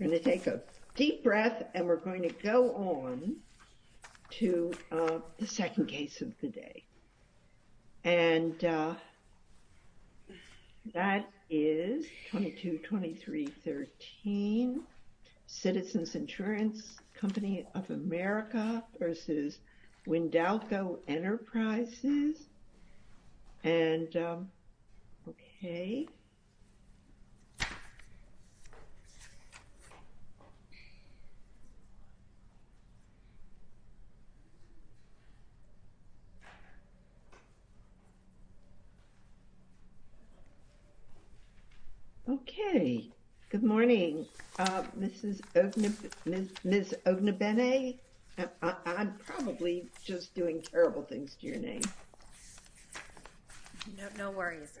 We're going to take a deep breath and we're going to go on to the second case of the day. And that is 22-2313 Citizens Insurance Company of America v. Wynndalco Enterprises. And okay. Okay, good morning, Mrs. Ognebene. I'm probably just doing terrible things to your name. No worries.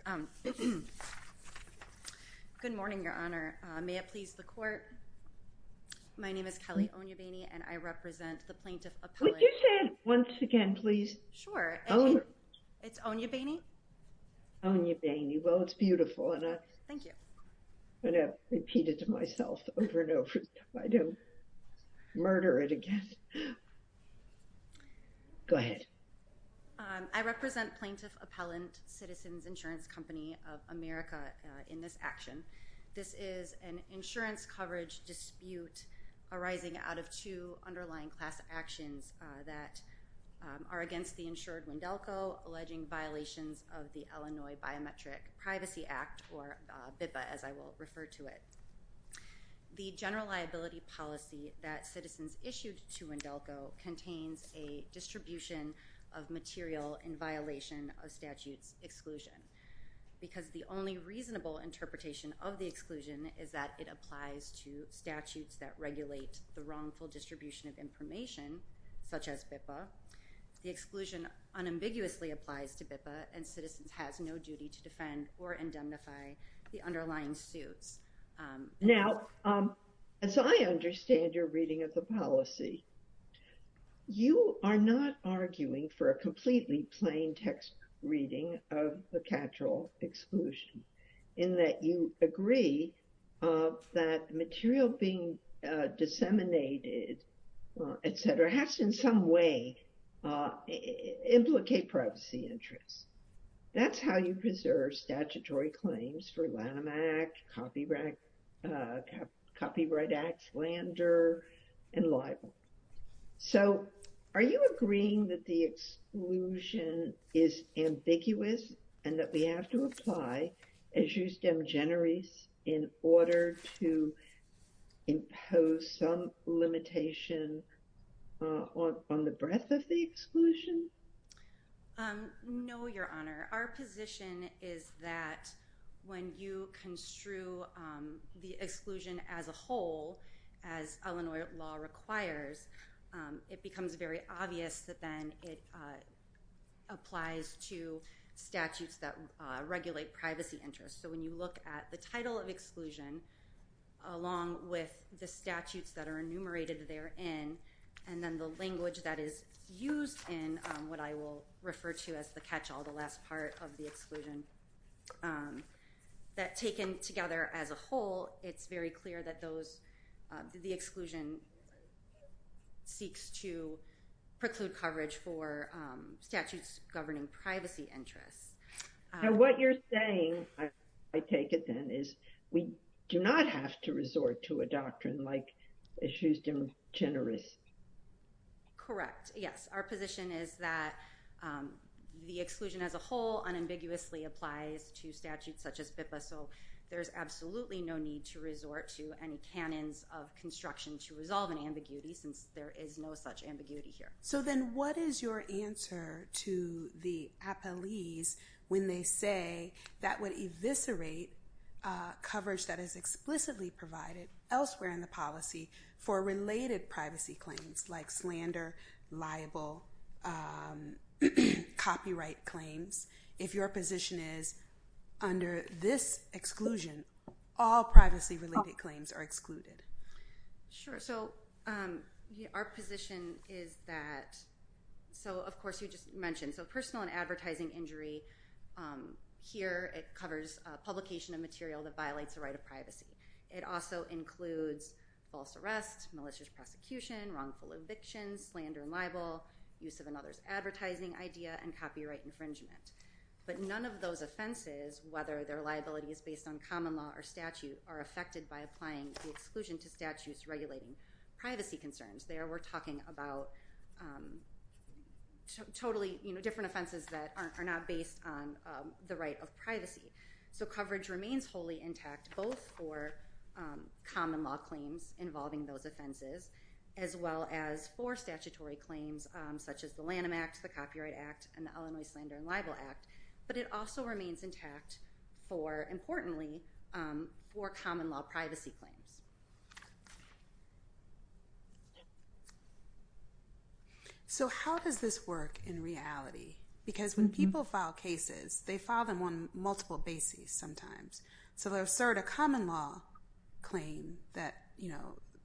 Good morning, Your Honor. May it please the court. My name is Kelly Ognebene and I represent the Plaintiff Appellate. Would you say that once again, please? Sure. It's Ognebene? Ognebene. Well, it's beautiful. Thank you. And I've repeated it to myself over and over. I don't murder it again. Go ahead. I represent Plaintiff Appellant Citizens Insurance Company of America in this action. This is an insurance coverage dispute arising out of two underlying class actions that are against the insured Wynndalco alleging violations of the Illinois Biometric Privacy Act, or BIPA as I will refer to it. The general liability policy that Citizens issued to Wynndalco contains a distribution of material in violation of statute's exclusion. Because the only reasonable interpretation of the exclusion is that it applies to statutes that regulate the wrongful distribution of information, such as BIPA. The exclusion unambiguously applies to BIPA and Citizens has no duty to defend or indemnify the underlying suits. Now, as I understand your reading of the policy, you are not arguing for a completely plain text reading of the catch-all exclusion. In that you agree that material being disseminated, etc., has in some way implicated privacy interests. That's how you preserve statutory claims for Lanham Act, Copyright Act, Flandre, and libel. So, are you agreeing that the exclusion is ambiguous and that we have to apply as justem generis in order to impose some limitation on the breadth of the exclusion? No, your honor. Our position is that when you construe the exclusion as a whole, as Illinois law requires, it becomes very obvious that then it applies to statutes that regulate privacy interests. So, when you look at the title of exclusion, along with the statutes that are enumerated therein, and then the language that is used in what I will refer to as the catch-all, the last part of the exclusion, that taken together as a whole, it's very clear that the exclusion seeks to preclude coverage for statutes governing privacy interests. Now, what you're saying, I take it then, is we do not have to resort to a doctrine like justem generis. Correct, yes. Our position is that the exclusion as a whole unambiguously applies to statutes such as BIPA, so there's absolutely no need to resort to any canons of construction to resolve an ambiguity, since there is no such ambiguity here. So then, what is your answer to the appellees when they say that would eviscerate coverage that is explicitly provided elsewhere in the policy for related privacy claims, like slander, libel, copyright claims, if your position is, under this exclusion, all privacy-related claims are excluded? Sure, so our position is that, so of course you just mentioned, so personal and advertising injury, here it covers publication of material that violates the right of privacy. It also includes false arrests, malicious prosecution, wrongful eviction, slander and libel, use of another's advertising idea, and copyright infringement. But none of those offenses, whether they're liabilities based on common law or statute, are affected by applying the exclusion to statutes regulating privacy concerns. There we're talking about totally different offenses that are not based on the right of privacy. So coverage remains wholly intact, both for common law claims involving those offenses, as well as for statutory claims such as the Lanham Act, the Copyright Act, and the Ellen Lee Slander and Libel Act. But it also remains intact for, importantly, for common law privacy claims. So how does this work in reality? Because when people file cases, they file them on multiple bases sometimes. So they'll assert a common law claim that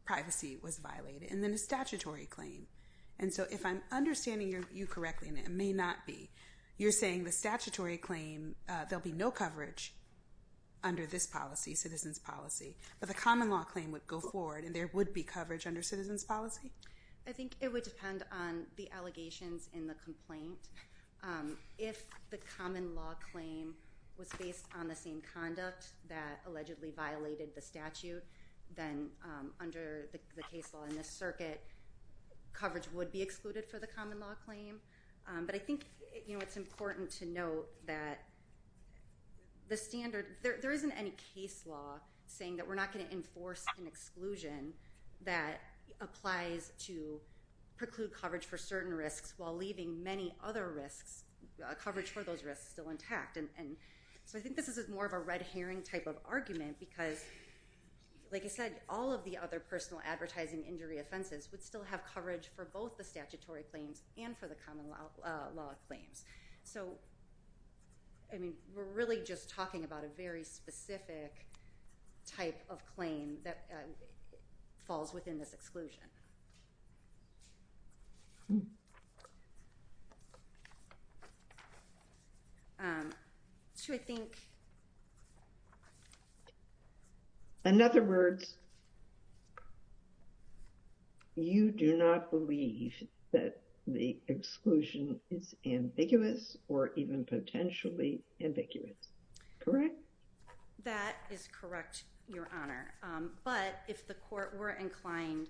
privacy was violated, and then a statutory claim. And so if I'm understanding you correctly, and it may not be, you're saying the statutory claim, there'll be no coverage under this policy, citizens' policy, but the common law claim would go forward and there would be coverage under citizens' policy? I think it would depend on the allegations in the complaint. If the common law claim was based on the same conduct that allegedly violated the statute, then under the case law in this circuit, coverage would be excluded for the common law claim. But I think it's important to note that there isn't any case law saying that we're not going to enforce an exclusion that applies to preclude coverage for certain risks while leaving many other risks, coverage for those risks, still intact. So I think this is more of a red herring type of argument because, like I said, all of the other personal advertising injury offenses would still have coverage for both the statutory claims and for the common law claims. So, I mean, we're really just talking about a very specific type of claim that falls within this exclusion. Should I think? In other words, you do not believe that the exclusion is ambiguous or even potentially ambiguous, correct? That is correct, Your Honor. But if the court were inclined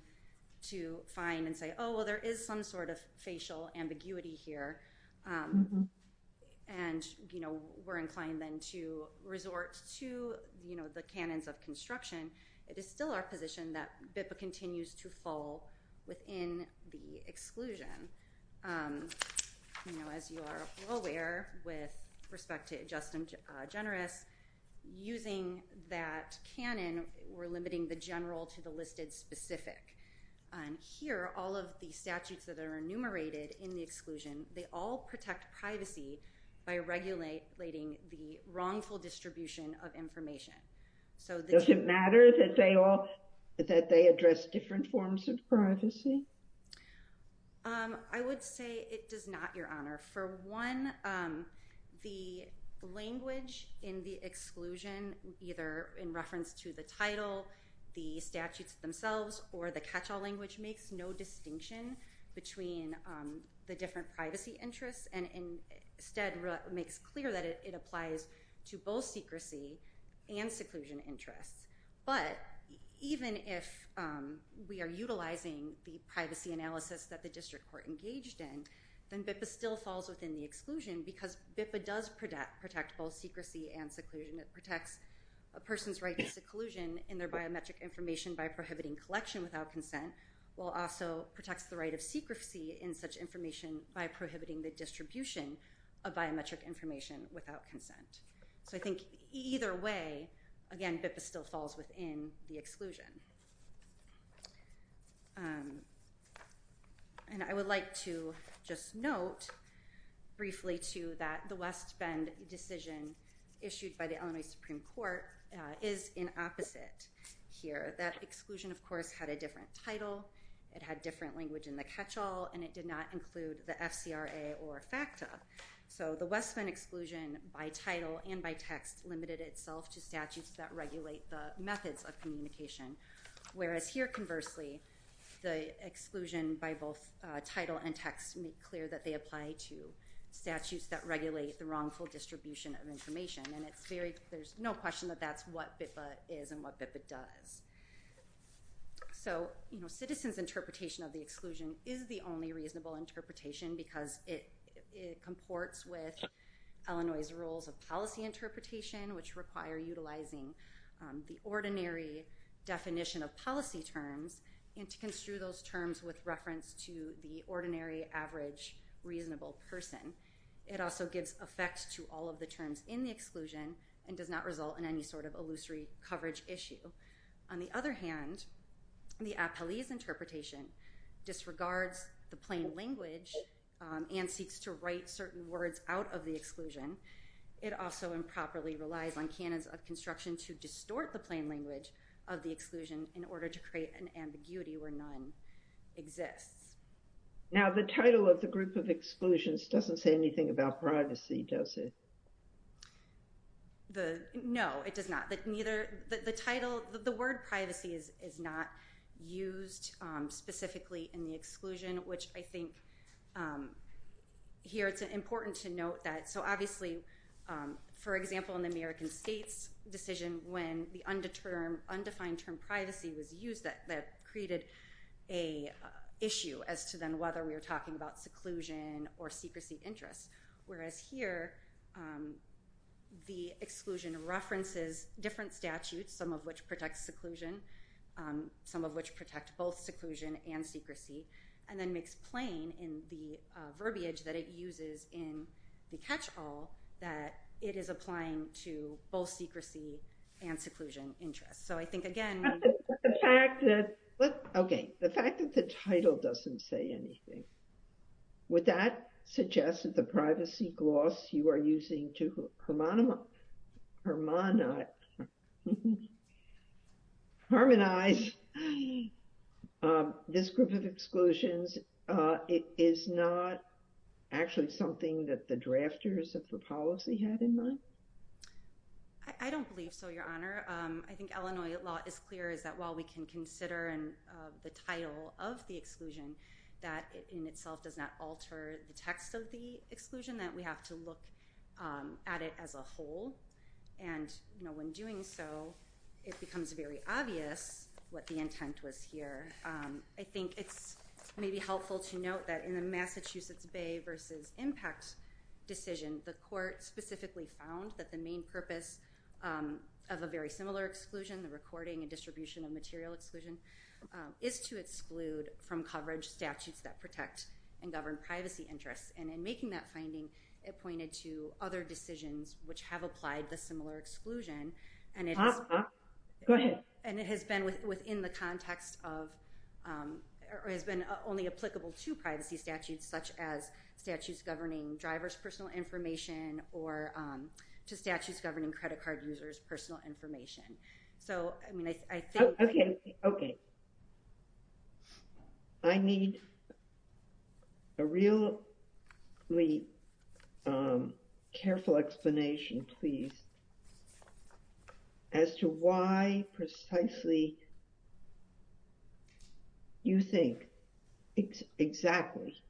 to find and say, oh, well, there is some sort of facial ambiguity here and we're inclined then to resort to the canons of construction, it is still our position that BIPA continues to fall within the exclusion. As you are all aware, with respect to Justin Generis, using that canon, we're limiting the general to the listed specific. Here, all of the statutes that are enumerated in the exclusion, they all protect privacy by regulating the wrongful distribution of information. Does it matter that they address different forms of privacy? I would say it does not, Your Honor. For one, the language in the exclusion, either in reference to the title, the statutes themselves, or the catch-all language makes no distinction between the different privacy interests and instead makes clear that it applies to both secrecy and seclusion interests. But even if we are utilizing the privacy analysis that the district court engaged in, then BIPA still falls within the exclusion because BIPA does protect both secrecy and seclusion. It protects a person's right to seclusion in their biometric information by prohibiting collection without consent while also protects the right of secrecy in such information by prohibiting the distribution of biometric information without consent. So I think either way, again, BIPA still falls within the exclusion. And I would like to just note briefly, too, that the West Bend decision issued by the Illinois Supreme Court is in opposite here. That exclusion, of course, had a different title, it had different language in the catch-all, and it did not include the FCRA or FACTA. So the West Bend exclusion by title and by text limited itself to statutes that regulate the methods of communication, whereas here, conversely, the exclusion by both title and text make clear that they apply to statutes that regulate the wrongful distribution of information. And there's no question that that's what BIPA is and what BIPA does. So citizens' interpretation of the exclusion is the only reasonable interpretation because it comports with Illinois' rules of policy interpretation, which require utilizing the ordinary definition of policy terms and to construe those terms with reference to the ordinary, average, reasonable person. It also gives effect to all of the terms in the exclusion and does not result in any sort of illusory coverage issue. On the other hand, the appellee's interpretation disregards the plain language and seeks to write certain words out of the exclusion. It also improperly relies on canons of construction to distort the plain language of the exclusion in order to create an ambiguity where none exists. Now, the title of the group of exclusions doesn't say anything about privacy, does it? No, it does not. The word privacy is not used specifically in the exclusion, which I think here it's important to note that. So obviously, for example, in the American states' decision when the undefined term privacy was used, that created an issue as to then whether we were talking about seclusion or secrecy of interest. Whereas here, the exclusion references different statutes, some of which protect seclusion, some of which protect both seclusion and secrecy, and then makes plain in the verbiage that it uses in the catch-all that it is applying to both secrecy and seclusion interests. So I think, again... Okay, the fact that the title doesn't say anything, would that suggest that the privacy gloss you are using to harmonize this group of exclusions is not actually something that the drafters of the policy had in mind? I don't believe so, Your Honor. I think Illinois law is clear that while we can consider the title of the exclusion, that in itself does not alter the text of the exclusion, that we have to look at it as a whole. And when doing so, it becomes very obvious what the intent was here. I think it's maybe helpful to note that in the Massachusetts Bay v. Impact decision, the court specifically found that the main purpose of a very similar exclusion, the recording and distribution of material exclusion, is to exclude from coverage statutes that protect and govern privacy interests. And in making that finding, it pointed to other decisions which have applied the similar exclusion, and it has been within the context of, or has been only applicable to privacy statutes, such as statutes governing drivers' personal information, or to statutes governing credit card users' personal information. Okay. I need a really careful explanation, please, as to why precisely you think exactly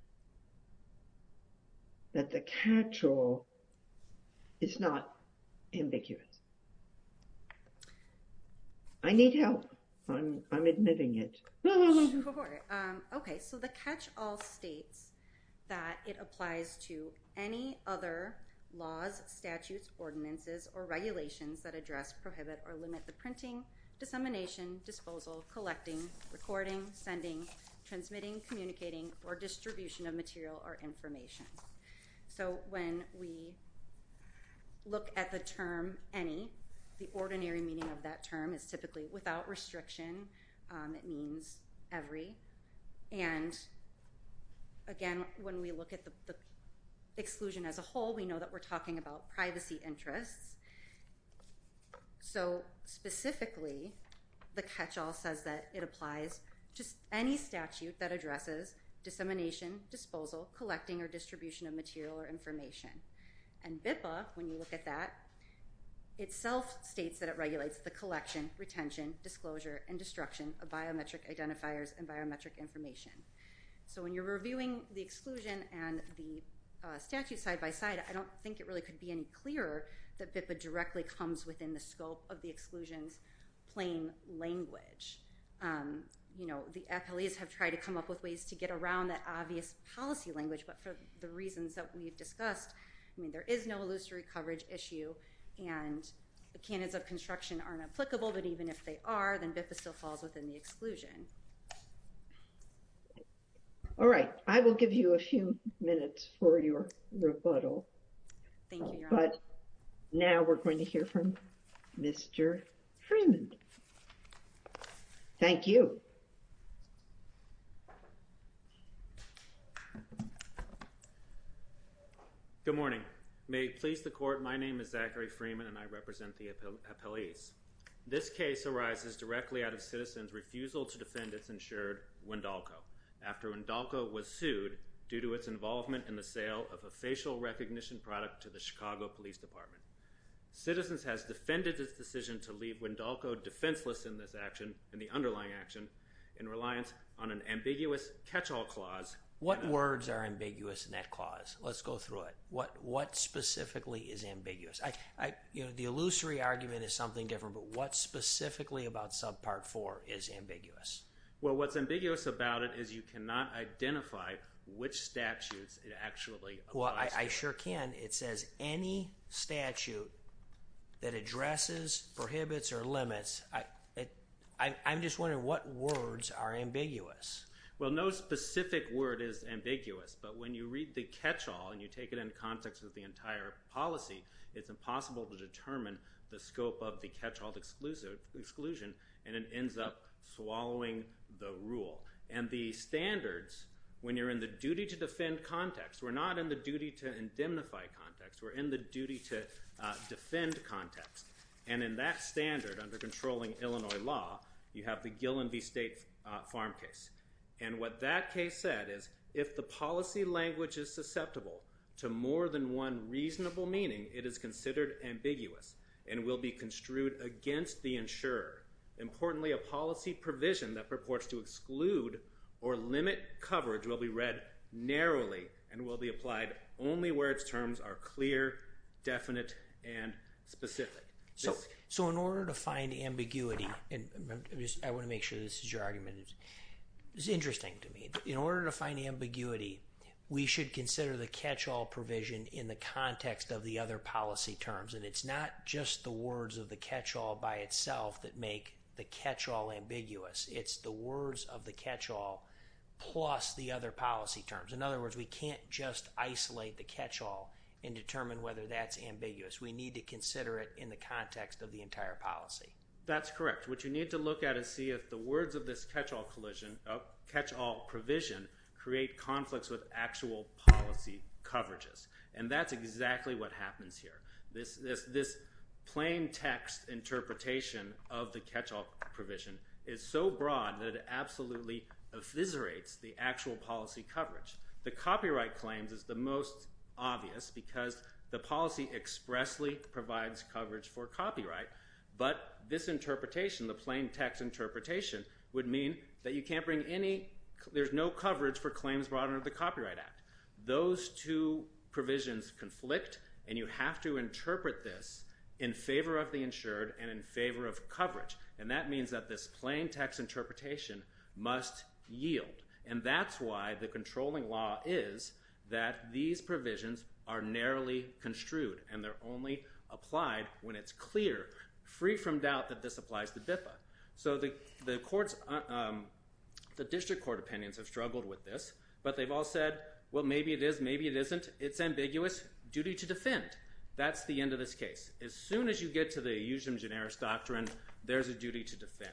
that the catch-all is not ambiguous. I need help. I'm admitting it. Okay, so the catch-all states that it applies to any other laws, statutes, ordinances, or regulations that address, prohibit, or limit the printing, dissemination, disposal, collecting, recording, sending, transmitting, communicating, or distribution of material or information. So when we look at the term any, the ordinary meaning of that term is typically without restriction. It means every. And again, when we look at the exclusion as a whole, we know that we're talking about privacy interests. So specifically, the catch-all says that it applies to any statute that addresses dissemination, disposal, collecting, or distribution of material or information. And BIPA, when you look at that, itself states that it regulates the collection, retention, disclosure, and destruction of biometric identifiers and biometric information. So when you're reviewing the exclusion and the statute side-by-side, I don't think it really could be any clearer that BIPA directly comes within the scope of the exclusion's plain language. You know, the FLEs have tried to come up with ways to get around that obvious policy language, but for the reasons that we've discussed, I mean, there is no illusory coverage issue, and the canons of construction aren't applicable, but even if they are, then BIPA still falls within the exclusion. All right. I will give you a few minutes for your rebuttal. Thank you, Your Honor. But now we're going to hear from Mr. Freeman. Thank you. Good morning. May it please the Court, my name is Zachary Freeman, and I represent the appellees. This case arises directly out of Citizens' refusal to defend its insured Wendolco after Wendolco was sued due to its involvement in the sale of a facial recognition product to the Chicago Police Department. Citizens has defended its decision to leave Wendolco defenseless in this action, in the underlying action, in reliance on an ambiguous catch-all clause. What words are ambiguous in that clause? Let's go through it. What specifically is ambiguous? The illusory argument is something different, but what specifically about Subpart 4 is ambiguous? Well, what's ambiguous about it is you cannot identify which statutes it actually applies to. Well, I sure can. It says any statute that addresses prohibits or limits. I'm just wondering what words are ambiguous? Well, no specific word is ambiguous, but when you read the catch-all and you take it in context with the entire policy, it's impossible to determine the scope of the catch-all exclusion and it ends up swallowing the rule. And the standards, when you're in the duty to defend context, we're not in the duty to indemnify context, we're in the duty to defend context. And in that standard, under controlling Illinois law, you have the Gillen v. State Farm case. And what that case said is, if the policy language is susceptible to more than one reasonable meaning, it is considered ambiguous and will be construed against the insurer. Importantly, a policy provision that purports to exclude or limit coverage will be read narrowly and will be applied only where its terms are clear, definite, and specific. So in order to find ambiguity, and I want to make sure this is your argument, it's interesting to me. In order to find ambiguity, we should consider the catch-all provision in the context of the other policy terms. And it's not just the words of the catch-all by itself that make the catch-all ambiguous. It's the words of the catch-all plus the other policy terms. In other words, we can't just isolate the catch-all and determine whether that's ambiguous. We need to consider it in the context of the entire policy. That's correct. What you need to look at is see if the words of this catch-all provision create conflicts with actual policy coverages. And that's exactly what happens here. This plain text interpretation of the catch-all provision is so broad that it absolutely effiserates the actual policy coverage. The copyright claims is the most obvious because the policy expressly provides coverage for copyright. But this interpretation, the plain text interpretation, would mean that you can't bring any, there's no coverage for claims brought under the Copyright Act. Those two provisions conflict, and you have to interpret this in favor of the insured and in favor of coverage. And that means that this plain text interpretation must yield. And that's why the controlling law is that these provisions are narrowly construed, and they're only applied when it's clear, free from doubt, that this applies to BIFA. So the courts, the district court opinions have struggled with this, but they've all said, well, maybe it is, maybe it isn't. It's ambiguous. Duty to defend. That's the end of this case. As soon as you get to the eusium generis doctrine, there's a duty to defend.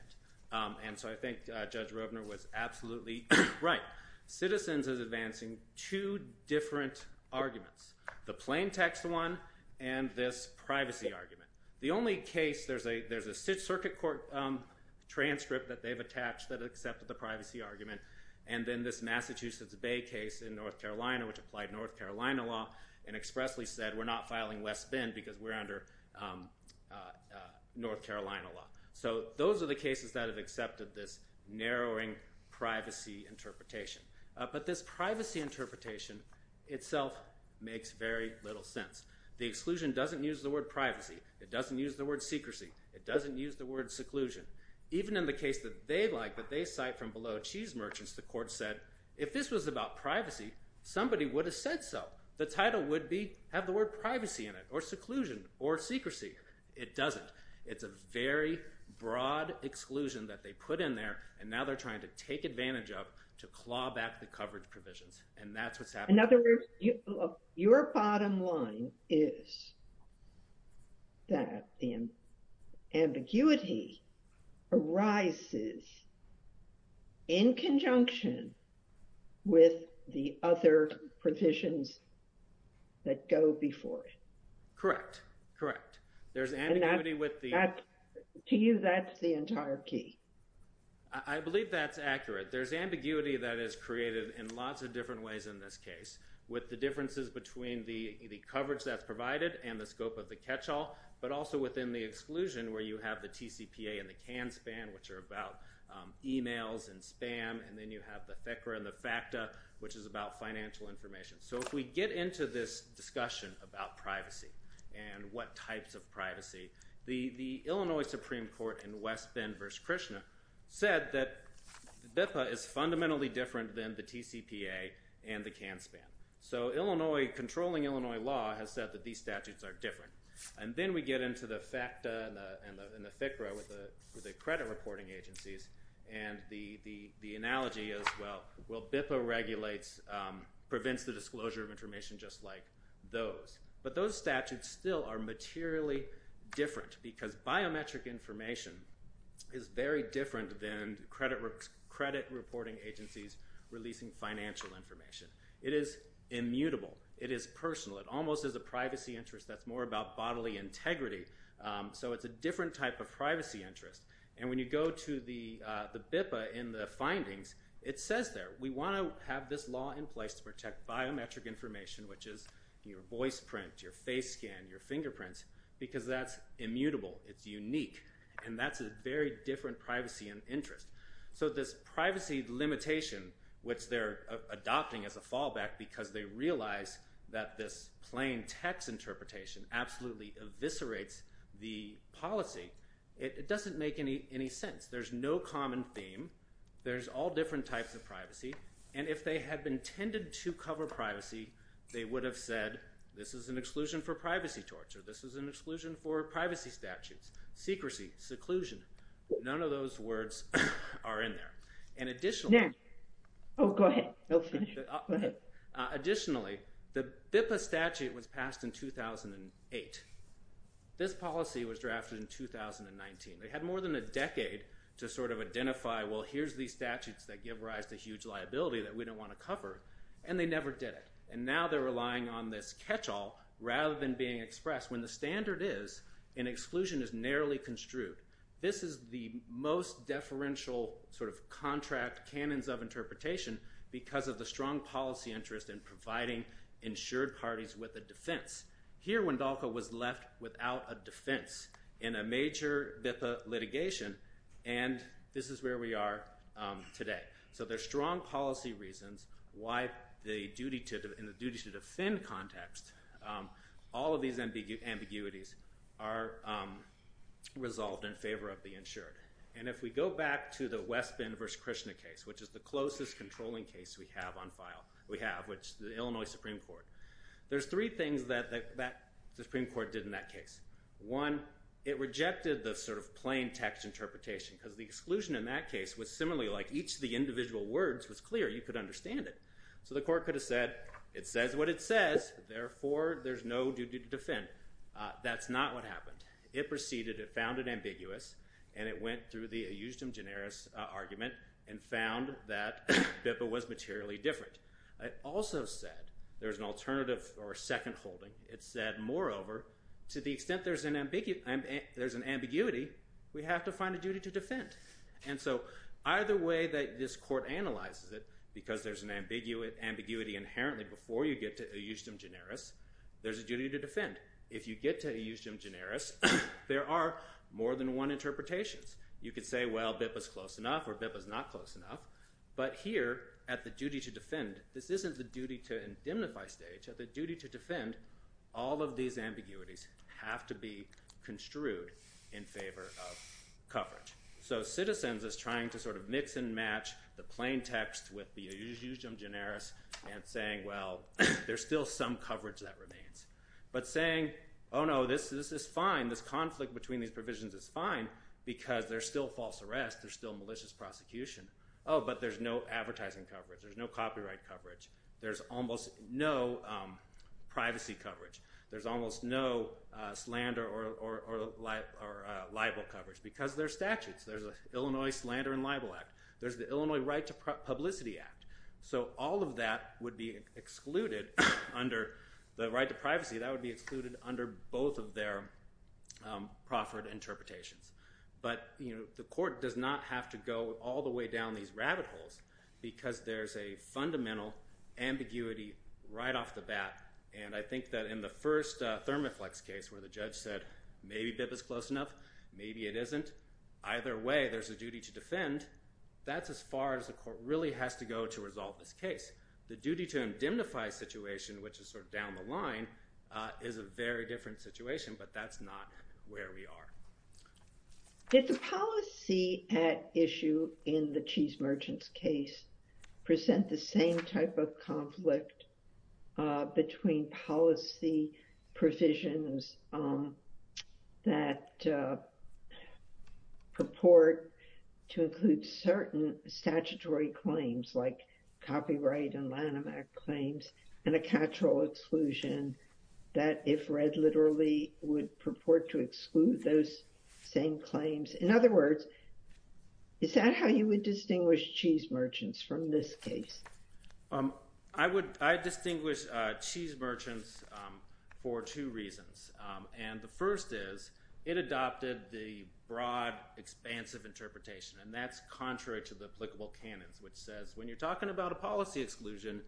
And so I think Judge Roebner was absolutely right. Citizens is advancing two different arguments. The plain text one and this privacy argument. The only case, there's a circuit court transcript that they've attached that accepted the privacy argument, and then this Massachusetts Bay case in North Carolina, which applied North Carolina law, and expressly said, we're not filing West Bend because we're under North Carolina law. So those are the cases that have accepted this narrowing privacy interpretation. But this privacy interpretation itself makes very little sense. The exclusion doesn't use the word privacy. It doesn't use the word secrecy. It doesn't use the word seclusion. Even in the case that they like, that they cite from Below Cheese Merchants, the court said, if this was about privacy, somebody would have said so. The title would be have the word privacy in it, or seclusion, or secrecy. It doesn't. It's a very broad exclusion that they put in there, and now they're trying to take advantage of to claw back the covered provisions. And that's what's happening. In other words, your bottom line is that the ambiguity arises in conjunction with the other provisions that go before it. Correct. Correct. There's ambiguity with the... To you, that's the entire key. I believe that's accurate. There's ambiguity that is created in lots of different ways in this case, with the differences between the coverage that's provided and the scope of the catch-all, but also within the exclusion where you have the TCPA and the CAN-SPAN, which are about emails and spam, and then you have the FCRA and the FACTA, which is about financial information. So if we get into this discussion about privacy and what types of privacy, the Illinois Supreme Court in West Bend v. Krishna said that BIPA is fundamentally different than the TCPA and the CAN-SPAN. So controlling Illinois law has said that these statutes are different. And then we get into the FACTA and the FCRA with the credit reporting agencies, and the analogy is, well, BIPA regulates, prevents the disclosure of information just like those. But those statutes still are materially different, because biometric information is very different than credit reporting agencies releasing financial information. It is immutable. It is personal. It almost is a privacy interest that's more about bodily integrity. So it's a different type of privacy interest. And when you go to the BIPA in the findings, it says there, we want to have this law in place to protect biometric information, which is your voice print, your face scan, your fingerprints, because that's immutable. It's unique. And that's a very different privacy interest. So this privacy limitation, which they're adopting as a fallback because they realize that this plain text interpretation absolutely eviscerates the policy, it doesn't make any sense. There's no common theme. There's all different types of privacy. And if they had been tended to and said, this is an exclusion for privacy torture, this is an exclusion for privacy statutes, secrecy, seclusion, none of those words are in there. And additionally... Additionally, the BIPA statute was passed in 2008. This policy was drafted in 2019. They had more than a decade to sort of identify, well, here's these statutes that give rise to huge liability that we don't want to cover, and they never did it. And now they're relying on this catch-all rather than being expressed. When the standard is, an exclusion is narrowly construed. This is the most deferential sort of contract canons of interpretation because of the strong policy interest in providing insured parties with a defense. Here, Wendalka was left without a defense in a major BIPA litigation, and this is where we are today. So there's strong policy reasons why the duty to defend context, all of these ambiguities are resolved in favor of the insured. And if we go back to the West Bend v. Krishna case, which is the closest controlling case we have on file, which the Illinois Supreme Court, there's three things that the Supreme Court did in that case. One, it rejected the sort of plain text interpretation because the exclusion in that case was similarly, like, each of the individual words was clear. You could understand it. So the court could have said, it says what it says, therefore, there's no duty to defend. That's not what happened. It proceeded, it found it ambiguous, and it went through the eustim generis argument and found that BIPA was materially different. It also said there's an alternative or a second holding. It said, moreover, to the extent there's an ambiguity, we have to find a duty to defend. And so either way that this court analyzes it, because there's an ambiguity inherently before you get to eustim generis, there's a duty to defend. If you get to eustim generis, there are more than one interpretations. You could say, well, BIPA's close enough or BIPA's not close enough, but here, at the duty to defend, this isn't the duty to indemnify stage, at the duty to defend, all of these ambiguities have to be extruded in favor of coverage. So Citizens is trying to sort of mix and match the plain text with the eustim generis and saying, well, there's still some coverage that remains. But saying, oh no, this is fine, this conflict between these provisions is fine, because there's still false arrest, there's still malicious prosecution, oh, but there's no advertising coverage, there's no copyright coverage, there's almost no privacy coverage, there's almost no slander or libel coverage, because there's statutes. There's the Illinois Slander and Libel Act. There's the Illinois Right to Publicity Act. So all of that would be excluded under the right to privacy, that would be excluded under both of their proffered interpretations. But the court does not have to go all the way down these rabbit holes, because there's a fundamental ambiguity right off the bat, and I think that in the first Thermaflex case, where the judge said, maybe BIP is close enough, maybe it isn't. Either way, there's a duty to defend. That's as far as the court really has to go to resolve this case. The duty to indemnify a situation, which is sort of down the line, is a very different situation, but that's not where we are. Did the policy at issue in the Cheese Merchants case present the same type of conflict between policy provisions that purport to include certain statutory claims like copyright and Lanham Act claims and a catch-all exclusion that, if read literally, would purport to exclude those same claims? In other words, is that how you would distinguish Cheese Merchants from this case? I distinguish Cheese Merchants for two reasons, and the first is, it adopted the broad, expansive interpretation, and that's contrary to the applicable canons, which says, when you're talking about a policy exclusion,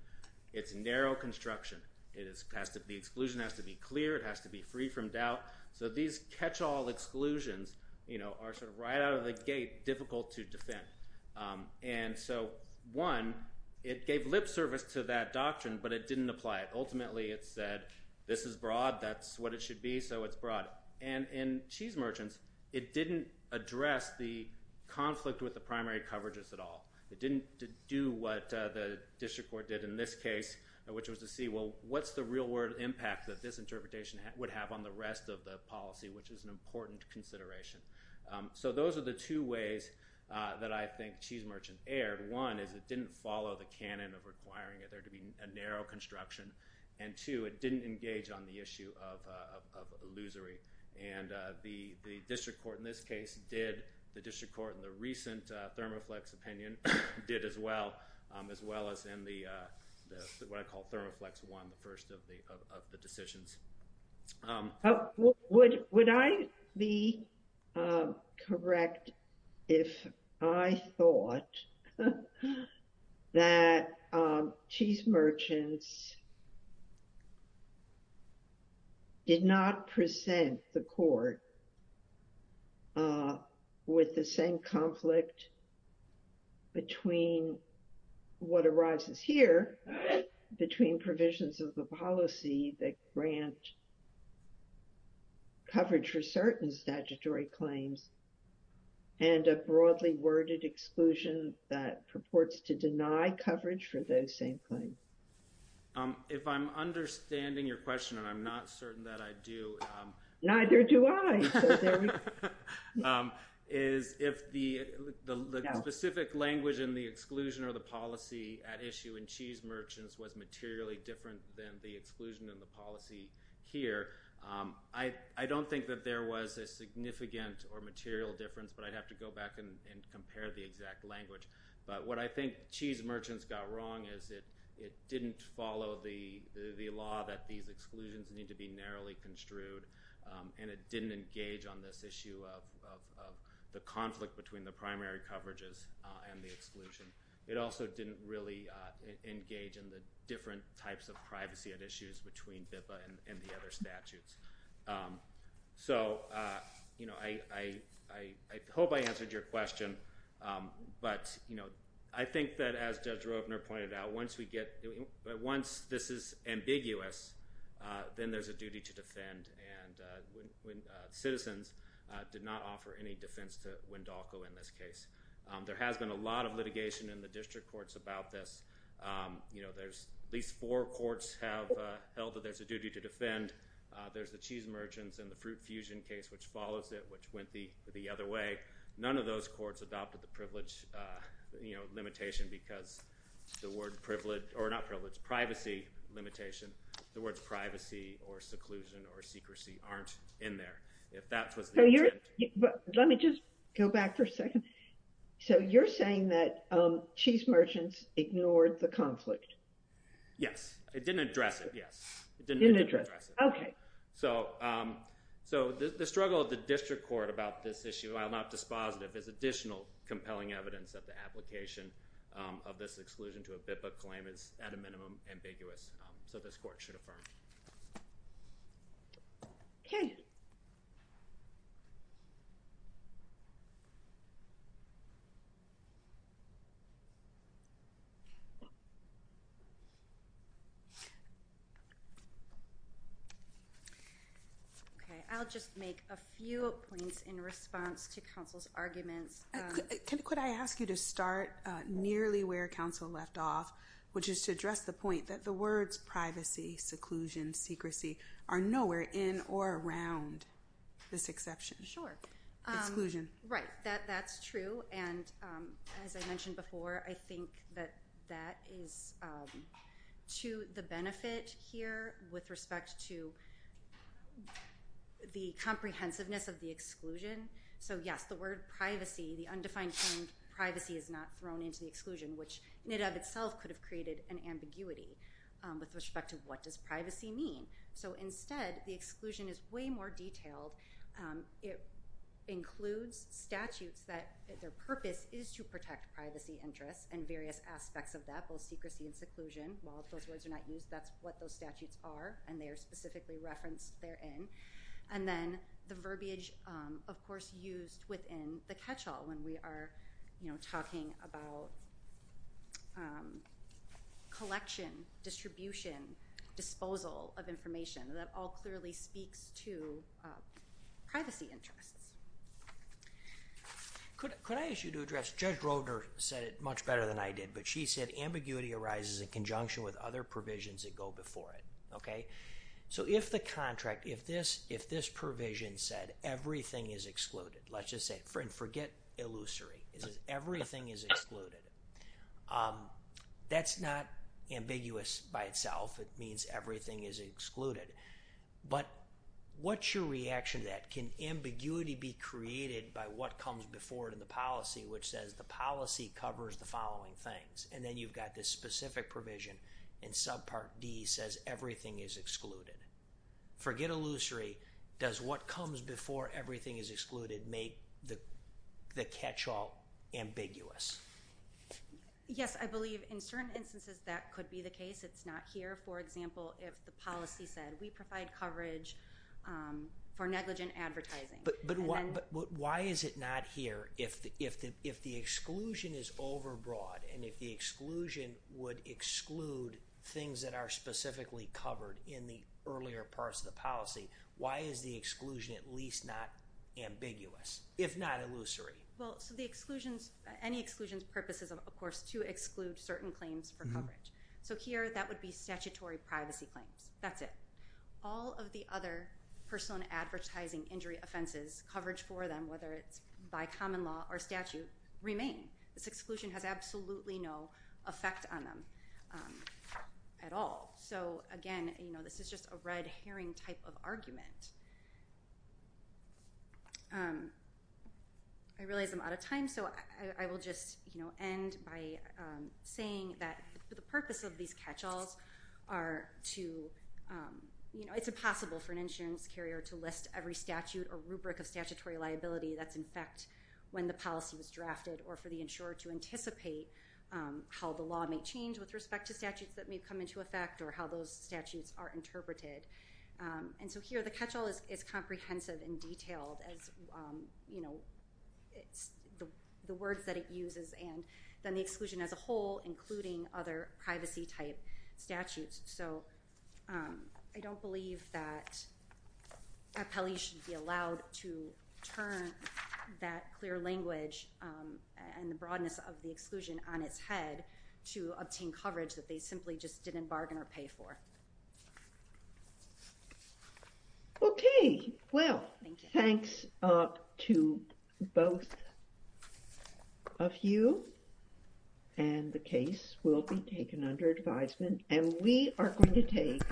it's narrow construction. The exclusion has to be clear, it has to be free from doubt, so these catch-all exclusions are sort of right out of the gate, difficult to defend. And so, one, it gave lip service to that doctrine, but it didn't apply it. Ultimately, it said, this is broad, that's what it should be, so it's broad. And in Cheese Merchants, it didn't address the conflict with the primary coverages at all. It didn't do what the district court did in this case, which was to see, well, what's the real-world impact that this interpretation would have on the rest of the policy, which is an important consideration. So those are the two ways that I think Cheese Merchants erred. One, is it didn't follow the canon of requiring there to be a narrow construction, and two, it didn't engage on the issue of illusory. And the district court in this case did, the district court in the recent Thermoflex opinion did as well, as well as in the, what I call Thermoflex I, the first of the decisions. Would I be correct if I thought that Cheese Merchants did not present the court with the same conflict between what arises here, between provisions of the policy that grant coverage for certain statutory claims and a broadly worded exclusion that purports to deny coverage for those same claims? If I'm understanding your question, and I'm not certain that I do... Neither do I! If the specific language in the exclusion or the policy at issue in Cheese Merchants was materially different than the exclusion and the policy here, I don't think that there was a significant or material difference, but I'd have to go back and compare the exact language. But what I think Cheese Merchants got wrong is that it didn't follow the law that these exclusions need to be narrowly construed, and it didn't engage on this issue of the conflict between the primary coverages and the exclusion. It also didn't really engage in the different types of privacy at issues between BIPA and the other statutes. I hope I answered your question, but I think that as Judge Roepner pointed out, once this is ambiguous, then there's a duty to defend. Citizens did not offer any defense to Wendalko in this case. There has been a lot of litigation in the district courts about this. There's at least four courts have held that there's a duty to defend. There's the Cheese Merchants and the Fruit Fusion case which follows it, which went the other way. None of those courts adopted the privilege limitation because the word privilege or not privilege, privacy limitation, the words privacy or seclusion or secrecy aren't in there. Let me just go back for a second. So you're saying that Wendalko didn't address it towards the conflict? Yes. It didn't address it. The struggle of the district court about this issue, while not dispositive, is additional compelling evidence that the application of this exclusion to a BIPA claim is at a minimum ambiguous, so this court should affirm it. Okay. I'll just make a few points in response to counsel's arguments. Could I ask you to start nearly where counsel left off, which is to address the point that the words privacy, seclusion, secrecy are nowhere in or around this exception. Exclusion. Right. That's true. And as I mentioned before, I think that that is to the benefit here with respect to the comprehensiveness of the exclusion. So yes, the word privacy, the undefined term privacy is not thrown into the exclusion, which NIDAB itself could have created an ambiguity with respect to what does privacy mean. So instead, the exclusion is way more detailed. It includes statutes that their purpose is to protect privacy interests and various aspects of that, both secrecy and seclusion. While those words are not used, that's what those statutes are, and they are specifically referenced therein. And then the verbiage of course used within the catchall when we are talking about collection, distribution, disposal of information. That all clearly speaks to privacy interests. Could I ask you to address, Judge Roeder said it much better than I did, but she said ambiguity arises in conjunction with other provisions that go before it. So if the contract, if this provision said everything is excluded, let's just say, forget illusory, it says everything is excluded. That's not ambiguous by itself. It means everything is excluded. But what's your reaction to that? Can ambiguity be created by what comes before it in the policy which says the policy covers the following things? And then you've got this specific provision in subpart D says everything is excluded. Forget illusory, does what comes before everything is excluded make the catchall ambiguous? Yes, I believe in certain instances that could be the case. It's not here. For example, if the policy said we provide coverage for negligent advertising. Why is it not here if the exclusion is overbroad and if the exclusion would exclude things that are specifically covered in the earlier parts of the policy, why is the exclusion at least not ambiguous, if not illusory? Any exclusion's purpose is of course to exclude certain claims for coverage. So here that would be statutory privacy claims. That's it. All of the other personal and advertising injury offenses, coverage for them, whether it's by common law or statute, remain. This exclusion has absolutely no effect on them at all. So again, this is just a red herring type of argument. I realize I'm out of time, so I will just end by saying that the purpose of these catchalls are to, it's impossible for an insurance carrier to list every statute or rubric of statutory liability that's in fact when the policy was drafted or for the insurer to anticipate how the law may change with respect to statutes that may come into effect or how those statutes are interpreted. So here the catchall is comprehensive and detailed. The words that it uses and then the exclusion as a whole, including other privacy type statutes. So I don't believe that appellees should be allowed to turn that clear language and the broadness of the exclusion on its head to obtain coverage that they simply just didn't bargain or pay for. Okay. Well, thanks to both of you and the case will be taken under advisement and we are going to take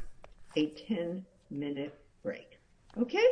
a 10 minute break. Okay?